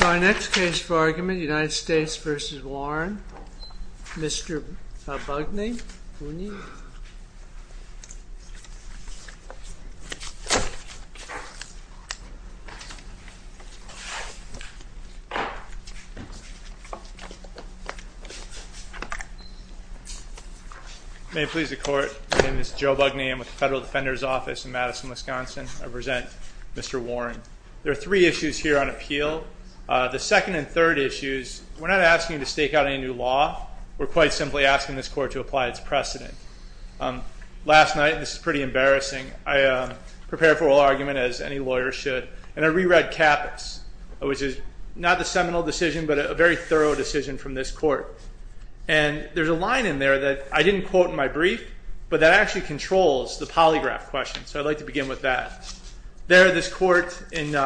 Our next case for argument, United States v. Warren, Mr. Bugney, may it please the court, my name is Joe Bugney, I'm with the Federal Defender's Office in Madison, Wisconsin. I present Mr. Warren. There are three issues here on appeal. The second and third issues, we're not asking to stake out any new law, we're quite simply asking this court to apply its precedent. Last night, this is pretty embarrassing, I prepared for all argument as any lawyer should, and I reread Caput's, which is not the seminal decision, but a very thorough decision from this court. And there's a line in there that I didn't quote in my brief, but that actually controls the polygraph question. So I'd like to begin with that. There, this court, in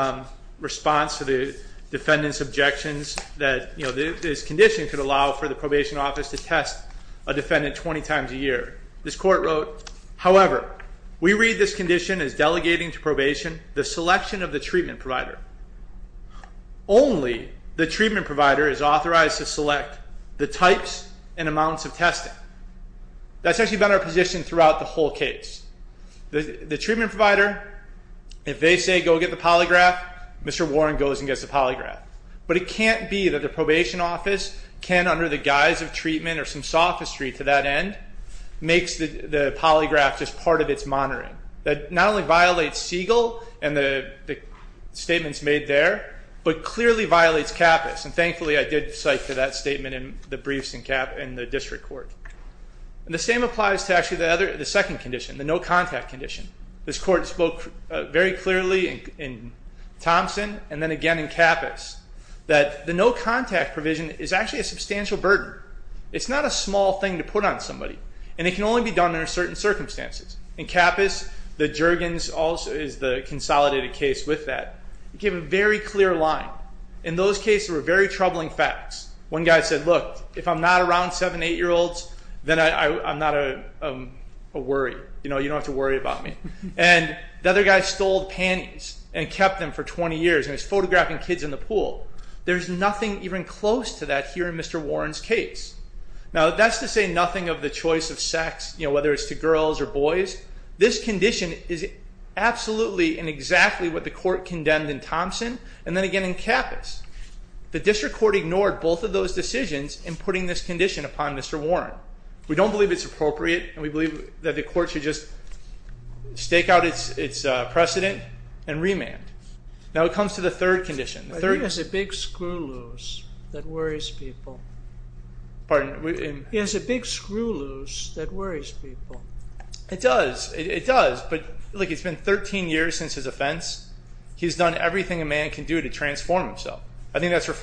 response to the defendant's objections that this condition could allow for the probation office to test a defendant 20 times a year, this court wrote, however, we read this condition as delegating to probation the selection of the treatment provider. Only the treatment provider is authorized to select the types and amounts of testing. That's actually been our position throughout the whole case. The treatment provider, if they say go get the polygraph, Mr. Warren goes and gets the polygraph. But it can't be that the probation office can, under the guise of treatment or some sophistry to that end, makes the polygraph just part of its monitoring. That not only violates Siegel and the statements made there, but clearly violates Caput, and thankfully I did cite to that statement in the briefs in the district court. The same applies to actually the second condition, the no-contact condition. This court spoke very clearly in Thompson and then again in Capus that the no-contact provision is actually a substantial burden. It's not a small thing to put on somebody, and it can only be done under certain circumstances. In Capus, the Juergens is the consolidated case with that. It gave a very clear line. In those cases, there were very troubling facts. One guy said, look, if I'm not around seven, eight-year-olds, then I'm not a worry. You know, you don't have to worry about me. And the other guy stole panties and kept them for 20 years and was photographing kids in the pool. There's nothing even close to that here in Mr. Warren's case. Now that's to say nothing of the choice of sex, you know, whether it's to girls or boys. This condition is absolutely and exactly what the court condemned in Thompson and then again in Capus. The district court ignored both of those We don't believe it's appropriate, and we believe that the court should just stake out its precedent and remand. Now it comes to the third condition. I think it's a big screw loose that worries people. Pardon? It's a big screw loose that worries people. It does. It does. But look, it's been 13 years since his offense. He's done everything a man can do to transform himself. I think that's This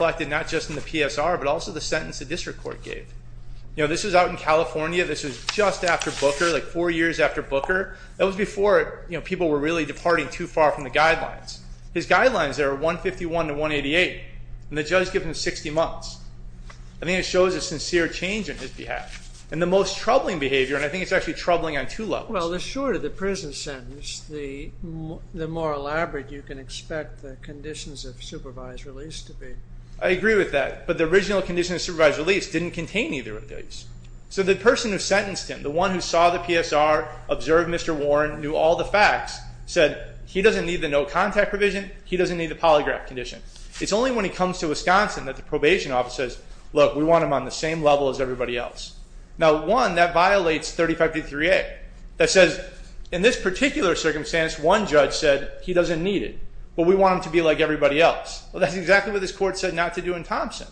was out in California. This was just after Booker, like four years after Booker. That was before people were really departing too far from the guidelines. His guidelines there are 151 to 188, and the judge gave him 60 months. I think it shows a sincere change on his behalf. And the most troubling behavior, and I think it's actually troubling on two levels. Well, the shorter the prison sentence, the more elaborate you can expect the conditions of supervised release to be. I agree with that, but the original conditions of supervised release didn't contain either of So the person who sentenced him, the one who saw the PSR, observed Mr. Warren, knew all the facts, said he doesn't need the no contact provision. He doesn't need the polygraph condition. It's only when he comes to Wisconsin that the probation office says, look, we want him on the same level as everybody else. Now, one, that violates 3523A. That says in this particular circumstance, one judge said he doesn't need it, but we want him to be like everybody else. Well, that's exactly what this court said not to do in Thompson.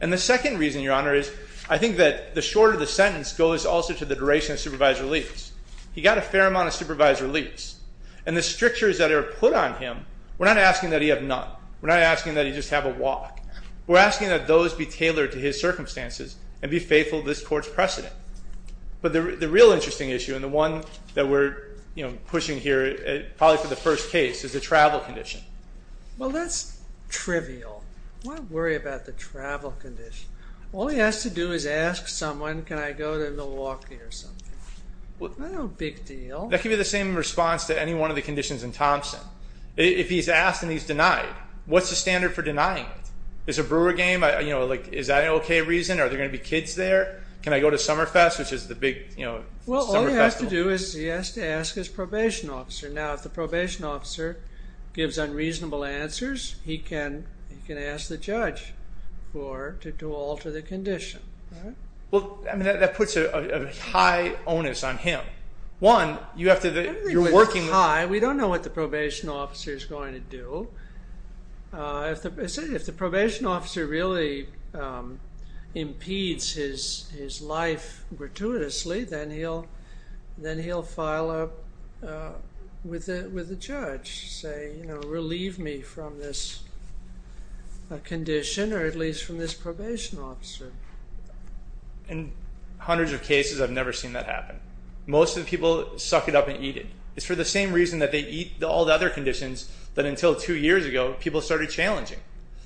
And the second reason, Your Honor, is I think that the shorter the sentence goes also to the duration of supervised release. He got a fair amount of supervised release, and the strictures that are put on him, we're not asking that he have none. We're not asking that he just have a walk. We're asking that those be tailored to his circumstances and be faithful to this court's precedent. But the real interesting issue, and the one that we're, you know, pushing here, probably for the first case, is the travel condition. Well, that's trivial. Why worry about the travel condition? All he has to do is ask someone, can I go to Milwaukee or something? No big deal. That could be the same response to any one of the conditions in Thompson. If he's asked and he's denied, what's the standard for denying it? Is a brewer game, you know, like, is that an okay reason? Are there going to be kids there? Can I go to Summerfest, which is the big, you know, summer festival? Well, all he has to do is he has to ask his probation officer. Now, if the probation officer gives unreasonable answers, he can ask the judge for, to alter the condition, right? Well, I mean, that puts a high onus on him. One, you have to, you're working high. We don't know what the probation officer is going to do. If the probation officer really impedes his life gratuitously, then he'll file up with the judge, say, you know, relieve me from this condition, or at least from this probation officer. In hundreds of cases, I've never seen that happen. Most of the people suck it up and eat it. It's for the same reason that they eat all the other conditions, that until two years ago, people started challenging,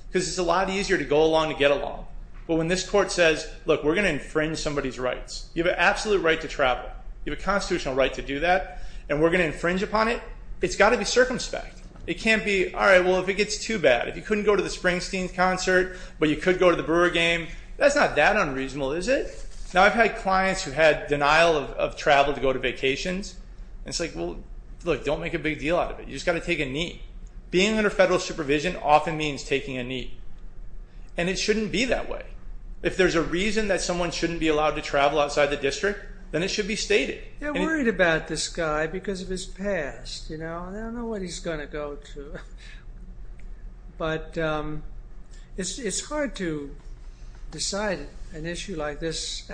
because it's a lot easier to go along to get along. But when this court says, look, we're going to infringe somebody's rights, you have an absolute right to travel, you have a constitutional right to do that, and we're going to infringe upon it, it's got to be circumspect. It can't be, all right, well, if it gets too bad, if you couldn't go to the Springsteen concert, but you could go to the brewer game, that's not that unreasonable, is it? Now, I've had clients who had denial of travel to go to vacations, and it's like, well, look, don't make a big deal out of it. You just got to take a knee. Being under federal supervision often means taking a knee, and it shouldn't be that way. If there's a reason that someone shouldn't be allowed to travel outside the district, then it should be stated. They're worried about this guy because of his past, you know, and they don't know what he's going to go to. But it's hard to decide an issue like this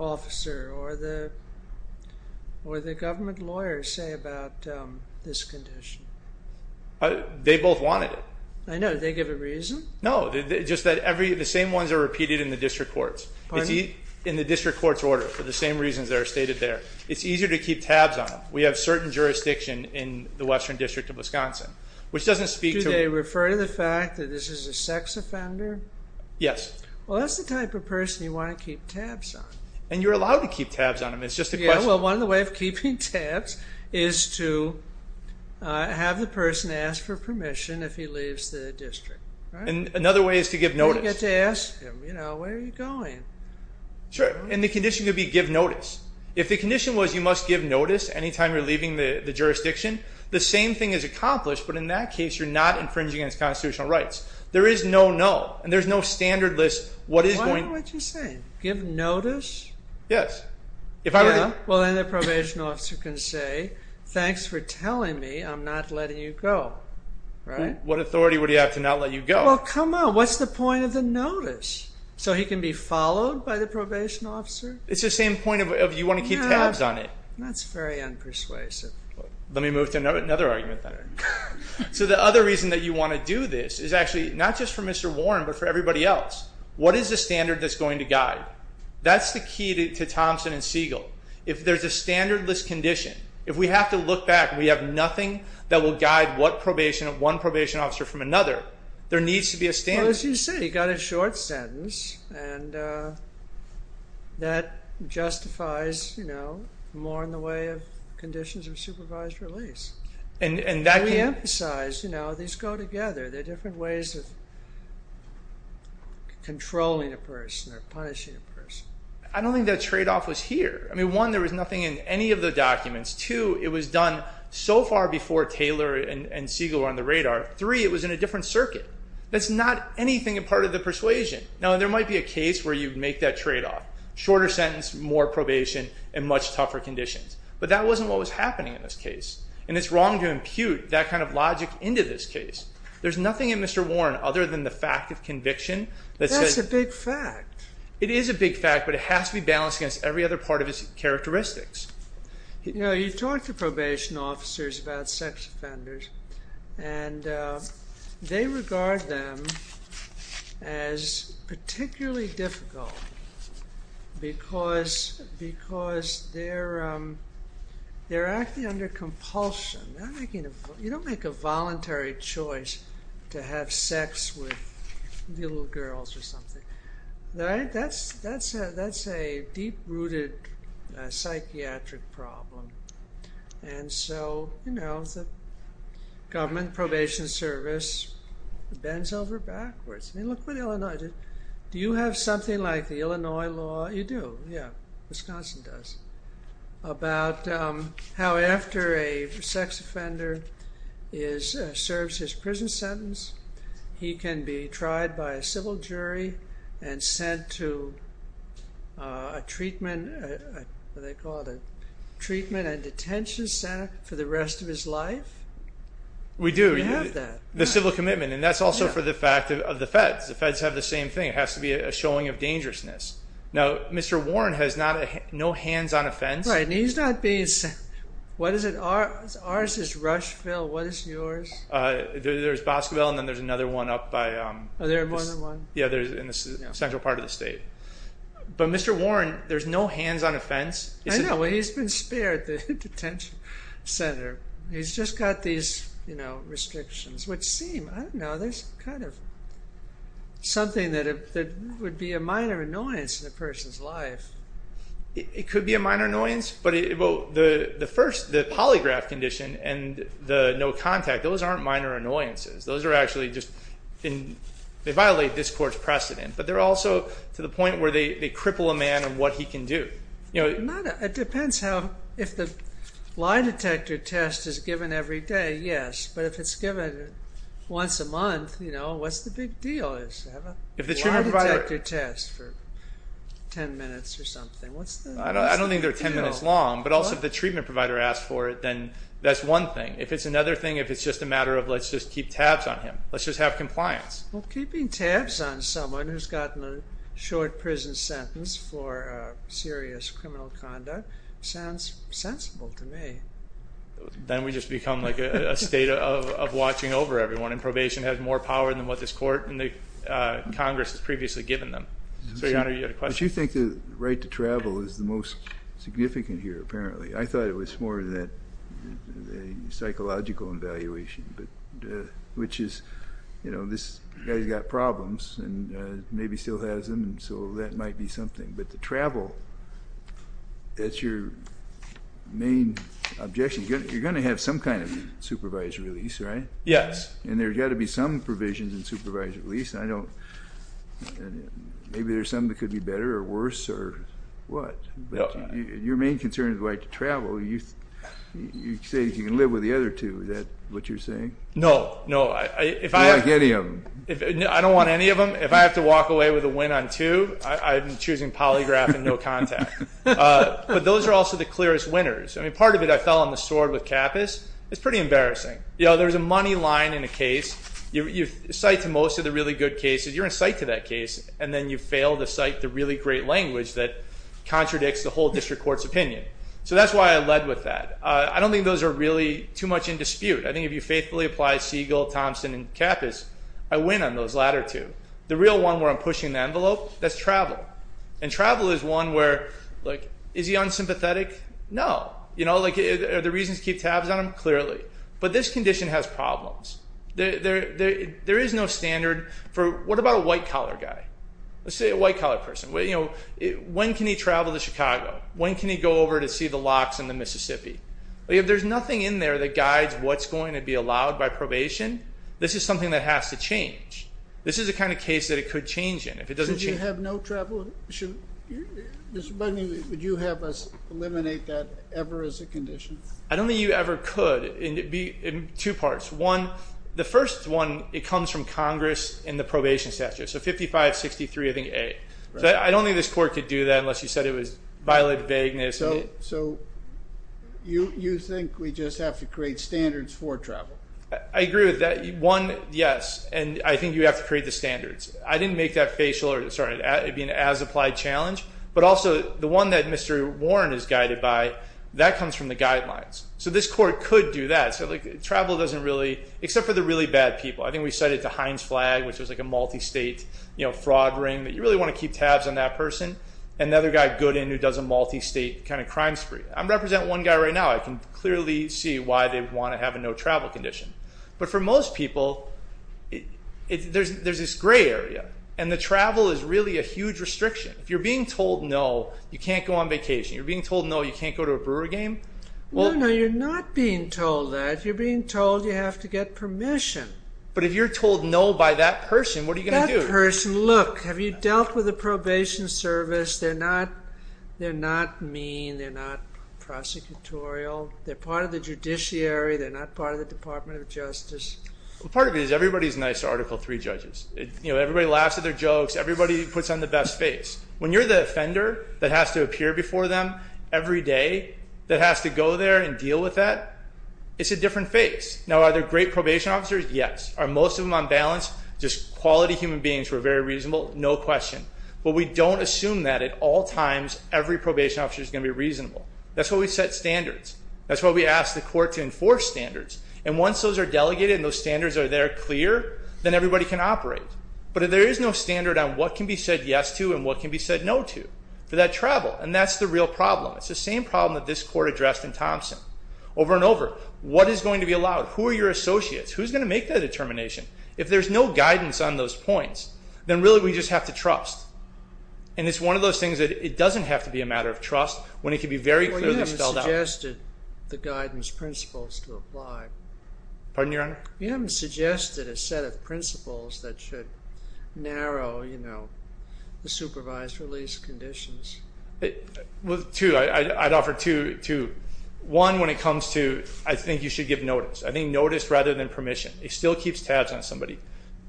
officer or the government lawyers say about this condition. They both wanted it. I know, did they give a reason? No, just that every, the same ones are repeated in the district courts. Pardon? In the district court's order for the same reasons that are stated there. It's easier to keep tabs on them. We have certain jurisdiction in the Western District of Wisconsin, which doesn't speak to... Do they refer to the fact that this is a sex offender? Yes. Well, that's the type of person you want to keep tabs on. And you're allowed to keep tabs on them. It's just a question. Yeah, well, one of the ways of keeping tabs is to have the person ask for permission if he leaves the district, right? And another way is to give notice. You get to ask him, you know, where are you going? Sure, and the condition could be give notice. If the condition was you must give notice anytime you're leaving the jurisdiction, the same thing is accomplished, but in that case, you're not infringing against constitutional rights. There is no, no, and there's no standard list. What is going... Why don't you say, give notice? Yes. If I were to... Well, then the probation officer can say, thanks for telling me I'm not letting you go, right? What authority would he have to not let you go? Well, come on, what's the point of the notice? So he can be followed by the probation officer? It's the same point of you want to keep tabs on it. That's very unpersuasive. Let me move to another argument then. So the other reason that you want to do this is actually not just for Mr. Warren, but for everybody else. What is the standard that's going to guide? That's the key to Thompson and Siegel. If there's a standard list condition, if we have to look back, we have nothing that will guide what probation, one probation officer from another, there needs to be a standard. Well, as you say, you got a short sentence, and that justifies, you know, more in the way of conditions of supervised release. And that... We emphasize, you know, these go together. They're different ways of controlling a person or punishing a person. I don't think that trade-off was here. I mean, one, there was nothing in any of the documents. Two, it was done so far before Taylor and Siegel were on the radar. Three, it was in a different circuit. That's not anything a part of the case where you'd make that trade-off. Shorter sentence, more probation, and much tougher conditions. But that wasn't what was happening in this case. And it's wrong to impute that kind of logic into this case. There's nothing in Mr. Warren other than the fact of conviction that says... That's a big fact. It is a big fact, but it has to be balanced against every other part of his characteristics. You know, you talk to probation officers about sex offenders, and they regard them as particularly difficult because they're acting under compulsion. You don't make a voluntary choice to have sex with little girls or something. That's a deep-rooted psychiatric problem. And so, you know, the government probation service bends over backwards. I mean, look at Illinois. Do you have something like the Illinois law? You do, yeah. Wisconsin does. About how after a sex offender serves his prison sentence, he can be tried by a civil jury and sent to a treatment, what do they call it, a treatment and detention center for the rest of his life? We do. You have that. The civil commitment. And that's also for the fact of the feds. The feds have the same thing. It has to be a showing of dangerousness. Now, Mr. Warren has no hands-on offense. Right, and he's not being sent... What is it? Ours is Rushville. What is yours? There's Boscoville, and then there's another one up by... There are more than one? Yeah, in the central part of the state. But Mr. Warren, there's no hands-on offense. I know, but he's been spared the detention center. He's just got these restrictions, which seem, I don't know, there's kind of something that would be a minor annoyance in a person's life. It could be a minor annoyance, but the polygraph condition and the no contact, those aren't minor annoyances. Those are actually just... They violate this court's precedent, but they're also to the point where they cripple a man in what he can do. It depends how... If the lie detector test is given every day, yes, but if it's given once a month, what's the big deal? If you have a lie detector test for 10 minutes or something, what's the deal? I don't think they're 10 minutes long, but also if the treatment provider asks for it, that's one thing. If it's another thing, if it's just a matter of let's just keep tabs on him, let's just have compliance. Well, keeping tabs on someone who's gotten a short prison sentence for serious criminal conduct sounds sensible to me. Then we just become a state of watching over everyone, and probation has more power than what this court and the Congress has previously given them. So, Your Honor, you had a question? But you think the right to travel is the most significant here, apparently. I thought it was more of a psychological evaluation, which is this guy's got problems and maybe still has them, so that might be something. But the travel, that's your main objection. You're going to have some kind of supervised release, right? Yes. And there's got to be some provisions in supervised release. Maybe there's some that could be better or worse or what. Your main concern is the right to travel. You say you can live with the other two. Is that what you're saying? No, no. You don't like any of them. I don't want any of them. If I have to walk away with a win on two, I'm choosing polygraph and no contact. But those are also the clearest winners. I mean, part of it, I fell on the sword with Kappus. It's pretty embarrassing. There's a money line in a case. You cite to most of the really good cases, you're in sight to that case, and then you fail to cite the really great language that contradicts the whole district court's opinion. So that's why I led with that. I don't think those are really too much in dispute. I think if you faithfully apply Siegel, Thompson, and Kappus, I win on those latter two. The real one where I'm pushing the envelope, that's travel. And travel is one where, like, is he unsympathetic? No. You know, like, are the reasons keep tabs on him? Clearly. But this condition has problems. There is no standard for, what about a white-collar guy? Let's say a white-collar person. When can he travel to Chicago? When can he go over to see the locks in the Mississippi? If there's nothing in there that guides what's going to be allowed by probation, this is something that has to change. This is the kind of case that it could change in if it doesn't change. So you have no travel? Mr. Bugney, would you have us eliminate that ever as a condition? I don't think you ever could. And it'd be in two parts. One, the first one, it comes from Congress in the probation statute. So 5563, I think, A. But I don't think this court could do that unless you said it was violent vagueness. So you think we just have to create standards for travel? I agree with that. One, yes. And I think you have to create the standards. I didn't make that facial or, sorry, it'd be an as-applied challenge. But also, the one that Mr. Warren is guided by, that comes from the guidelines. So this court could do that. So, like, travel doesn't really, except for the really bad people. I think we set it to Heinz Flagg, which was like a multi-state fraud ring. You really want to keep tabs on that person. And the other guy, Goodin, who does a multi-state kind of crime spree. I represent one guy right now. I can clearly see why they want to have a no travel condition. But for most people, there's this gray area. And the travel is really a huge restriction. If you're being told no, you can't go on vacation. If you're being told no, you can't go to a Brewer game. No, no, you're not being told that. You're getting permission. But if you're told no by that person, what are you going to do? That person, look, have you dealt with the probation service? They're not mean. They're not prosecutorial. They're part of the judiciary. They're not part of the Department of Justice. Part of it is everybody's nice to Article III judges. Everybody laughs at their jokes. Everybody puts on the best face. When you're the offender that has to appear before them every day, that has to go there and deal with that, it's a different face. Now, are there great probation officers? Yes. Are most of them on balance, just quality human beings who are very reasonable? No question. But we don't assume that at all times every probation officer is going to be reasonable. That's why we set standards. That's why we ask the court to enforce standards. And once those are delegated and those standards are there clear, then everybody can operate. But there is no standard on what can be said yes to and what can be said no to for that travel. And that's the real problem. It's the same problem that this court addressed in Thompson. Over and over, what is going to be allowed? Who are your associates? Who's going to make that determination? If there's no guidance on those points, then really we just have to trust. And it's one of those things that it doesn't have to be a matter of trust when it can be very clearly spelled out. Well, you haven't suggested the guidance principles to apply. Pardon, Your Honor? You haven't suggested a set of principles that should narrow the supervised release conditions. Well, two. I'd offer two. One, when it comes to I think you should give notice. I think notice rather than permission. It still keeps tabs on somebody.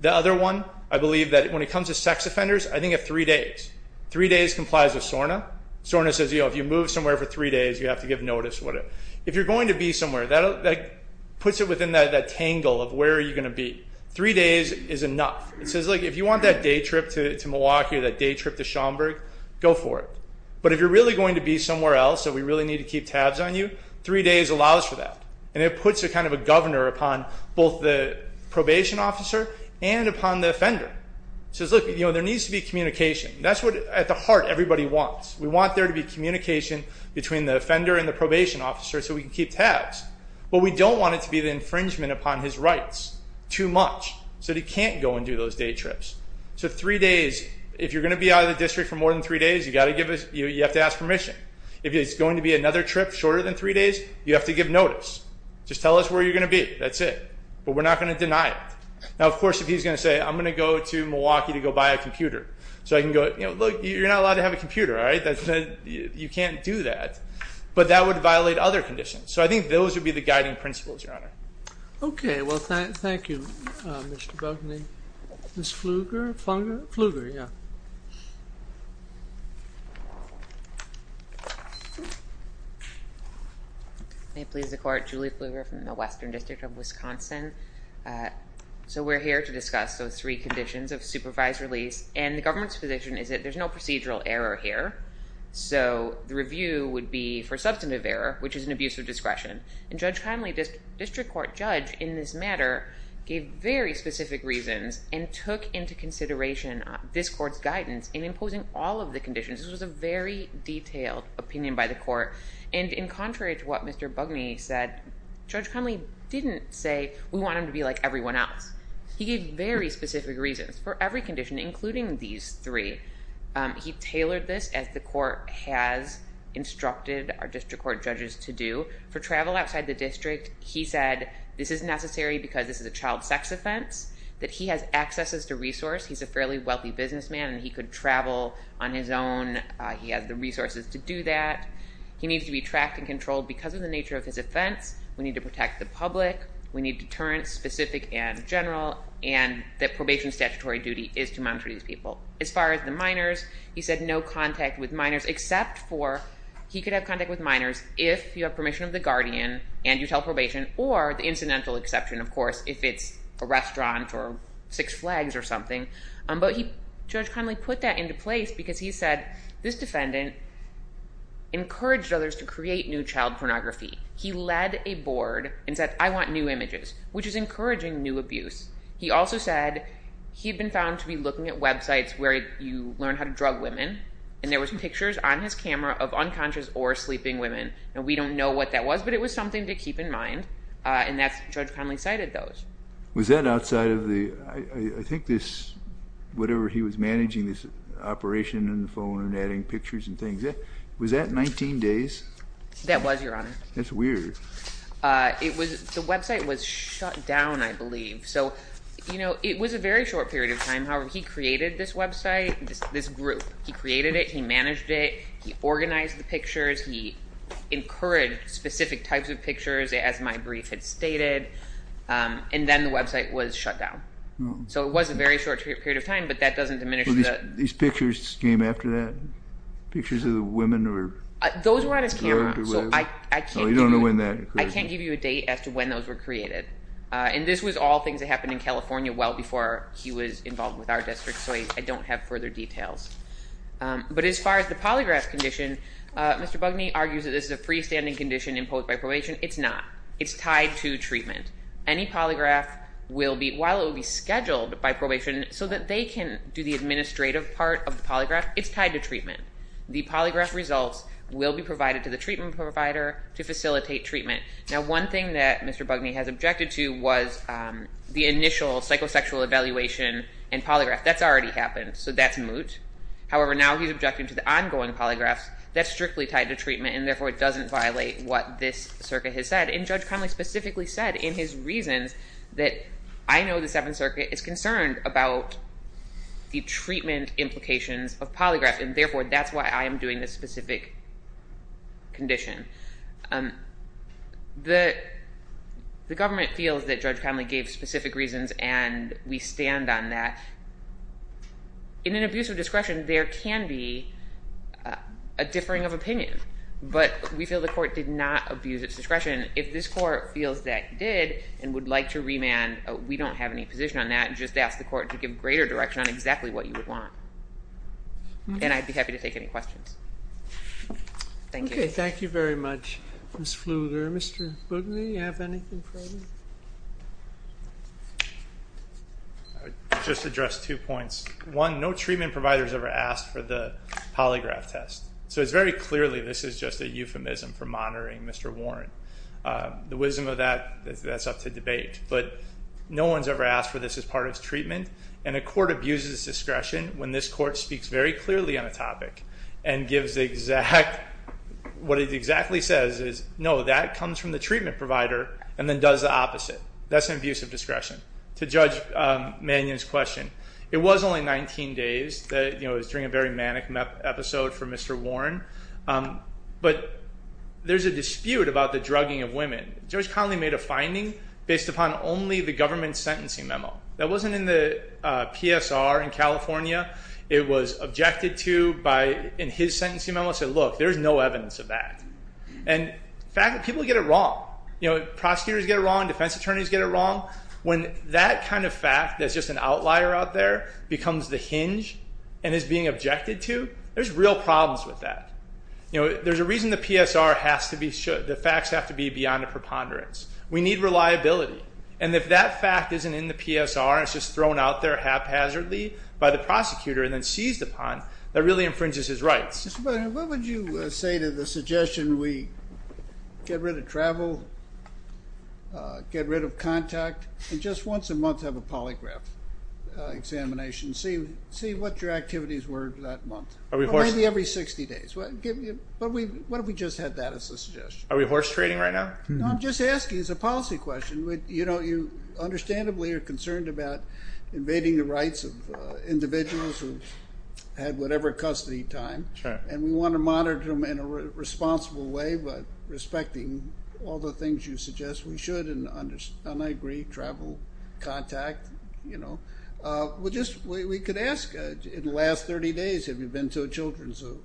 The other one, I believe that when it comes to sex offenders, I think of three days. Three days complies with SORNA. SORNA says if you move somewhere for three days, you have to give notice. If you're going to be somewhere, that puts it within that tangle of where are you going to be. Three days is enough. It says if you want that day trip to Milwaukee or that day trip to Schaumburg, go for it. But if you're really going to be somewhere else that we really need to keep tabs on you, three days allows for that. And it puts a kind of a governor upon both the probation officer and upon the offender. It says, look, there needs to be communication. That's what at the heart everybody wants. We want there to be communication between the offender and the probation officer so we can keep tabs. But we don't want it to be the infringement upon his rights too much so that he can't go and do those day trips. So three days, if you're going to be out of the district for more than three days, you have to ask permission. If it's going to be another trip shorter than three days, you have to give notice. Just tell us where you're going to be. That's it. But we're not going to deny it. Now, of course, if he's going to say, I'm going to go to Milwaukee to go buy a computer. So I can go, look, you're not allowed to have a computer, all right? You can't do that. But that would violate other conditions. So I think those would be the guiding principles, Your Honor. Okay. Well, thank you, Mr. Buckley. Ms. Pfluger, yeah. May it please the court, Julie Pfluger from the Western District of Wisconsin. So we're here to discuss those three conditions of supervised release. And the government's position is that there's no procedural error here. So the review would be for substantive error, which is an abuse of discretion. And Judge Conley, district court judge in this matter, gave very specific reasons and took into consideration this court's guidance in imposing all of the conditions. This was a very detailed opinion by the court. And in contrary to what Mr. Bugney said, Judge Conley didn't say, we want him to be like everyone else. He gave very specific reasons for every condition, including these three. He tailored this as the court has instructed our district court judges to do. For travel outside the district, he said this is necessary because this is a child sex offense, that he has accesses to resource. He's a fairly wealthy businessman and he could travel on his own. He has the resources to do that. He needs to be tracked and controlled because of the nature of his offense. We need to protect the public. We need deterrence, specific and general, and that probation statutory duty is to monitor these people. As far as the minors, he said no contact with minors except for, he could have contact with minors if you have permission of the guardian and you tell probation or the incidental exception, of course, if it's a restaurant or Six Flags or something. But Judge Conley put that into place because he said this defendant encouraged others to create new child pornography. He led a board and said, I want new images, which is encouraging new abuse. He also said he'd been found to be looking at websites where you learn how to drug women and there was pictures on his camera of unconscious or sleeping women. Now, we don't know what that was, but it was something to keep in mind. And that's, Judge Conley cited those. Was that outside of the, I think this, whatever he was managing this operation and the phone and adding pictures and things, was that 19 days? That was, Your Honor. That's weird. It was, the website was it was a very short period of time. However, he created this website, this group, he created it, he managed it, he organized the pictures, he encouraged specific types of pictures, as my brief had stated, and then the website was shut down. So it was a very short period of time, but that doesn't diminish that. These pictures came after that? Pictures of the women? Those were on his camera. So I can't give you a date as to when those were created. And this was all things that happened in California well before he was involved with our district, so I don't have further details. But as far as the polygraph condition, Mr. Bugney argues that this is a freestanding condition imposed by probation. It's not. It's tied to treatment. Any polygraph will be, while it will be scheduled by probation so that they can do the administrative part of the polygraph, it's tied to treatment. The polygraph results will be provided to the treatment provider to facilitate treatment. Now one thing that Mr. Bugney has objected to was the initial psychosexual evaluation and polygraph. That's already happened, so that's moot. However, now he's objecting to the ongoing polygraphs. That's strictly tied to treatment and therefore it doesn't violate what this circuit has said. And Judge Connolly specifically said in his reasons that I know the Seventh Circuit is concerned about the treatment implications of this condition. The government feels that Judge Connolly gave specific reasons and we stand on that. In an abuse of discretion there can be a differing of opinion, but we feel the court did not abuse its discretion. If this court feels that it did and would like to remand, we don't have any position on that. Just ask the court to give greater direction on exactly what you would want. And I'd be happy to take any questions. Thank you. Okay, thank you very much Ms. Flugler. Mr. Bugney, do you have anything for me? I would just address two points. One, no treatment provider has ever asked for the polygraph test. So it's very clearly this is just a euphemism for monitoring Mr. Warren. The wisdom of that, that's up to debate. But no one's ever asked for this as part of treatment and a court abuses discretion when this court speaks very clearly on a topic and gives the exact, what it exactly says is no that comes from the treatment provider and then does the opposite. That's an abuse of discretion. To Judge Mannion's question, it was only 19 days that you know it's during a very manic episode for Mr. Warren, but there's a dispute about the drugging of women. Judge Conley made a finding based upon only the government's sentencing memo. That wasn't in the PSR in California. It was objected to by, in his sentencing memo, said look there's no evidence of that. And in fact people get it wrong. You know prosecutors get it wrong, defense attorneys get it wrong. When that kind of fact that's just an outlier out there becomes the hinge and is being objected to, there's real problems with that. You know there's a reason the PSR has to be, the facts have to be beyond a preponderance. We need reliability and if that fact isn't in the PSR and it's just thrown out there haphazardly by the prosecutor and then seized upon, that really infringes his rights. Mr. Mannion, what would you say to the suggestion we get rid of travel, get rid of contact, and just once a month have a polygraph examination. See what your activities were that month. Maybe every 60 days. What if we just had that as a suggestion? Are we horse trading right now? No I'm just asking as a policy question. You know you understandably are concerned about invading the rights of individuals who've had whatever custody time and we want to monitor them in a responsible way but respecting all the things you suggest we should and I agree, travel, contact, you know. We could ask in the last 30 days have you been to a children's zoo?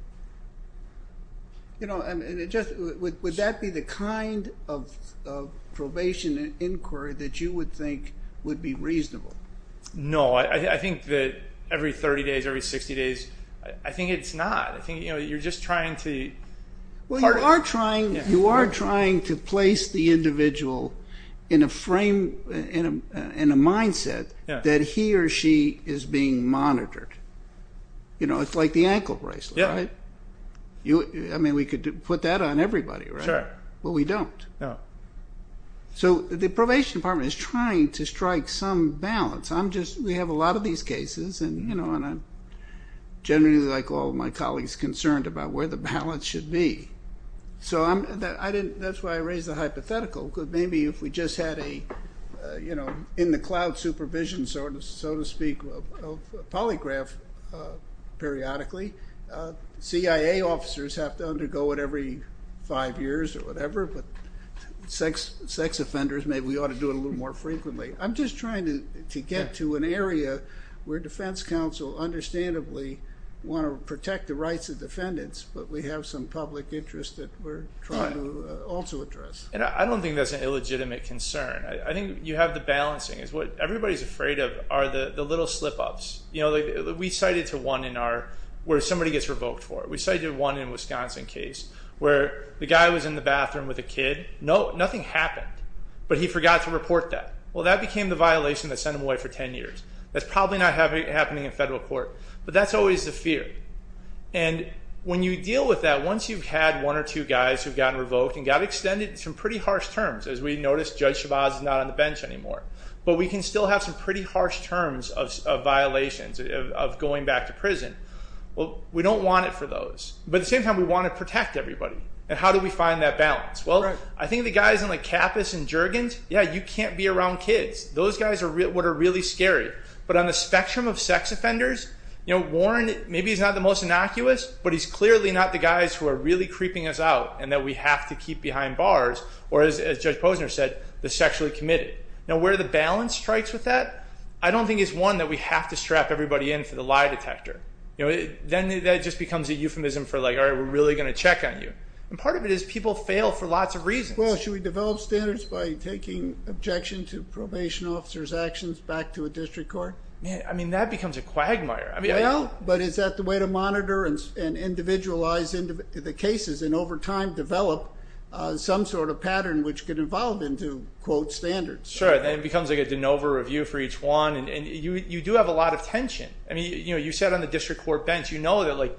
Would that be the kind of probation inquiry that you would think would be reasonable? No, I think that every 30 days, every 60 days, I think it's not. I think you're just trying to... Well you are trying to place the individual in a frame, in a mindset that he or she is being monitored. You know it's like the ankle bracelet, right? I mean we could put that on everybody, right? Sure. But we don't. So the probation department is trying to strike some balance. I'm just, we have a lot of these cases and you know and I'm generally like all my colleagues concerned about where the balance should be. So I didn't, that's why I raised the hypothetical because maybe if we just had a you know in the cloud supervision sort of so to speak of polygraph periodically, CIA officers have to undergo it every five years or whatever but sex offenders maybe we ought to do it a little more frequently. I'm just trying to get to an area where defense counsel understandably want to protect the rights of defendants but we have some public interest that we're trying to also address. And I don't think that's an illegitimate concern. I think you have the balancing is what everybody's afraid of are the little slip-ups. You know we cited to one in our where somebody gets revoked for it. We cited one in Wisconsin case where the guy was in the bathroom with a kid. No, nothing happened but he forgot to report that. Well that became the happening in federal court but that's always the fear and when you deal with that once you've had one or two guys who've gotten revoked and got extended some pretty harsh terms as we noticed Judge Chavez is not on the bench anymore but we can still have some pretty harsh terms of violations of going back to prison. Well we don't want it for those but at the same time we want to protect everybody and how do we find that balance? Well I think the guys in like Capas and Juergens, yeah you can't be around kids. Those guys are what are really scary but on the spectrum of sex offenders you know Warren maybe he's not the most innocuous but he's clearly not the guys who are really creeping us out and that we have to keep behind bars or as Judge Posner said the sexually committed. Now where the balance strikes with that I don't think is one that we have to strap everybody in for the lie detector. You know then that just becomes a euphemism for like all right we're really going to check on you and part of it is people fail for lots of reasons. Well should we to probation officers actions back to a district court? Yeah I mean that becomes a quagmire. Well but is that the way to monitor and individualize into the cases and over time develop some sort of pattern which could evolve into quote standards. Sure then it becomes like a de novo review for each one and you you do have a lot of tension. I mean you know you sat on the district court bench you know that like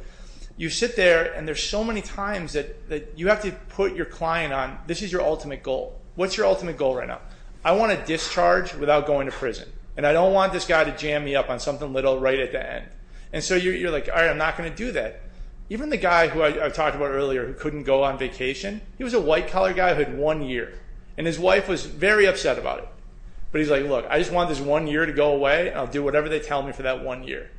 you sit there and there's so many times that that you have to put your client on this is your ultimate goal. What's your ultimate goal right now? I want to discharge without going to prison and I don't want this guy to jam me up on something little right at the end and so you're like all right I'm not going to do that. Even the guy who I talked about earlier who couldn't go on vacation he was a white collar guy who had one year and his wife was very upset about it but he's like look I just want this one year to go away and I'll do whatever they tell me for that one year.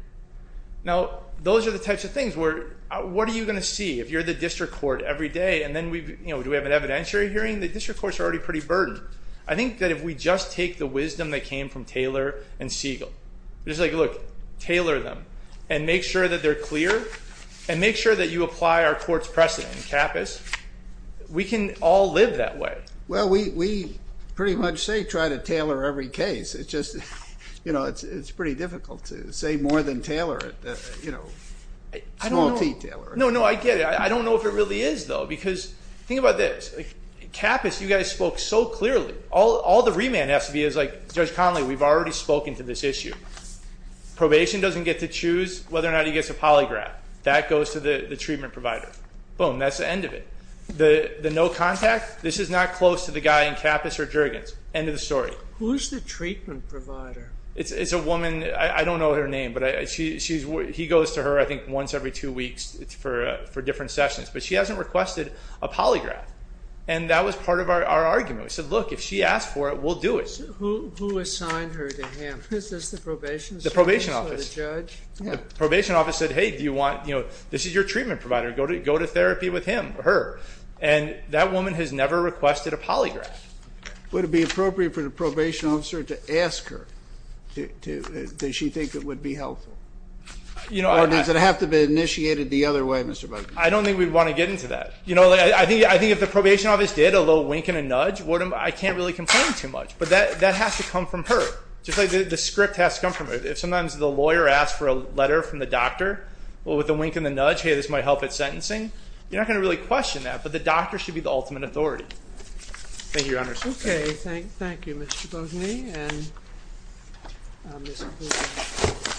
Now those are the types of things where what are you going to see if you're the district court every day and then we you know do we have an evidentiary hearing? The district courts are already pretty burdened. I think that if we just take the wisdom that came from Taylor and Siegel it's like look tailor them and make sure that they're clear and make sure that you apply our court's precedent in capice we can all live that way. Well we we pretty much say try to tailor every case it's just you know it's it's pretty difficult to say more than tailor it you know small detailer. No no I get it I don't know if it really is though because think about this capice you guys spoke so clearly all all the remand has to be is like Judge Connolly we've already spoken to this issue probation doesn't get to choose whether or not he gets a polygraph that goes to the the treatment provider boom that's the end of it the the no contact this is not close to the guy in capice or jurgens end of the story. Who's the treatment provider? It's it's he goes to her I think once every two weeks it's for for different sessions but she hasn't requested a polygraph and that was part of our argument we said look if she asked for it we'll do it. Who assigned her to him? Is this the probation? The probation office. The judge? The probation office said hey do you want you know this is your treatment provider go to go to therapy with him her and that woman has never requested a polygraph. Would it be appropriate for the you know or does it have to be initiated the other way Mr. Bozni? I don't think we'd want to get into that you know I think I think if the probation office did a little wink and a nudge what am I can't really complain too much but that that has to come from her just like the script has to come from her if sometimes the lawyer asks for a letter from the doctor well with a wink and the nudge hey this might help at sentencing you're not going to really question that but the doctor should be the ultimate authority. Thank you your honor. Okay thank thank you Mr. Bozni and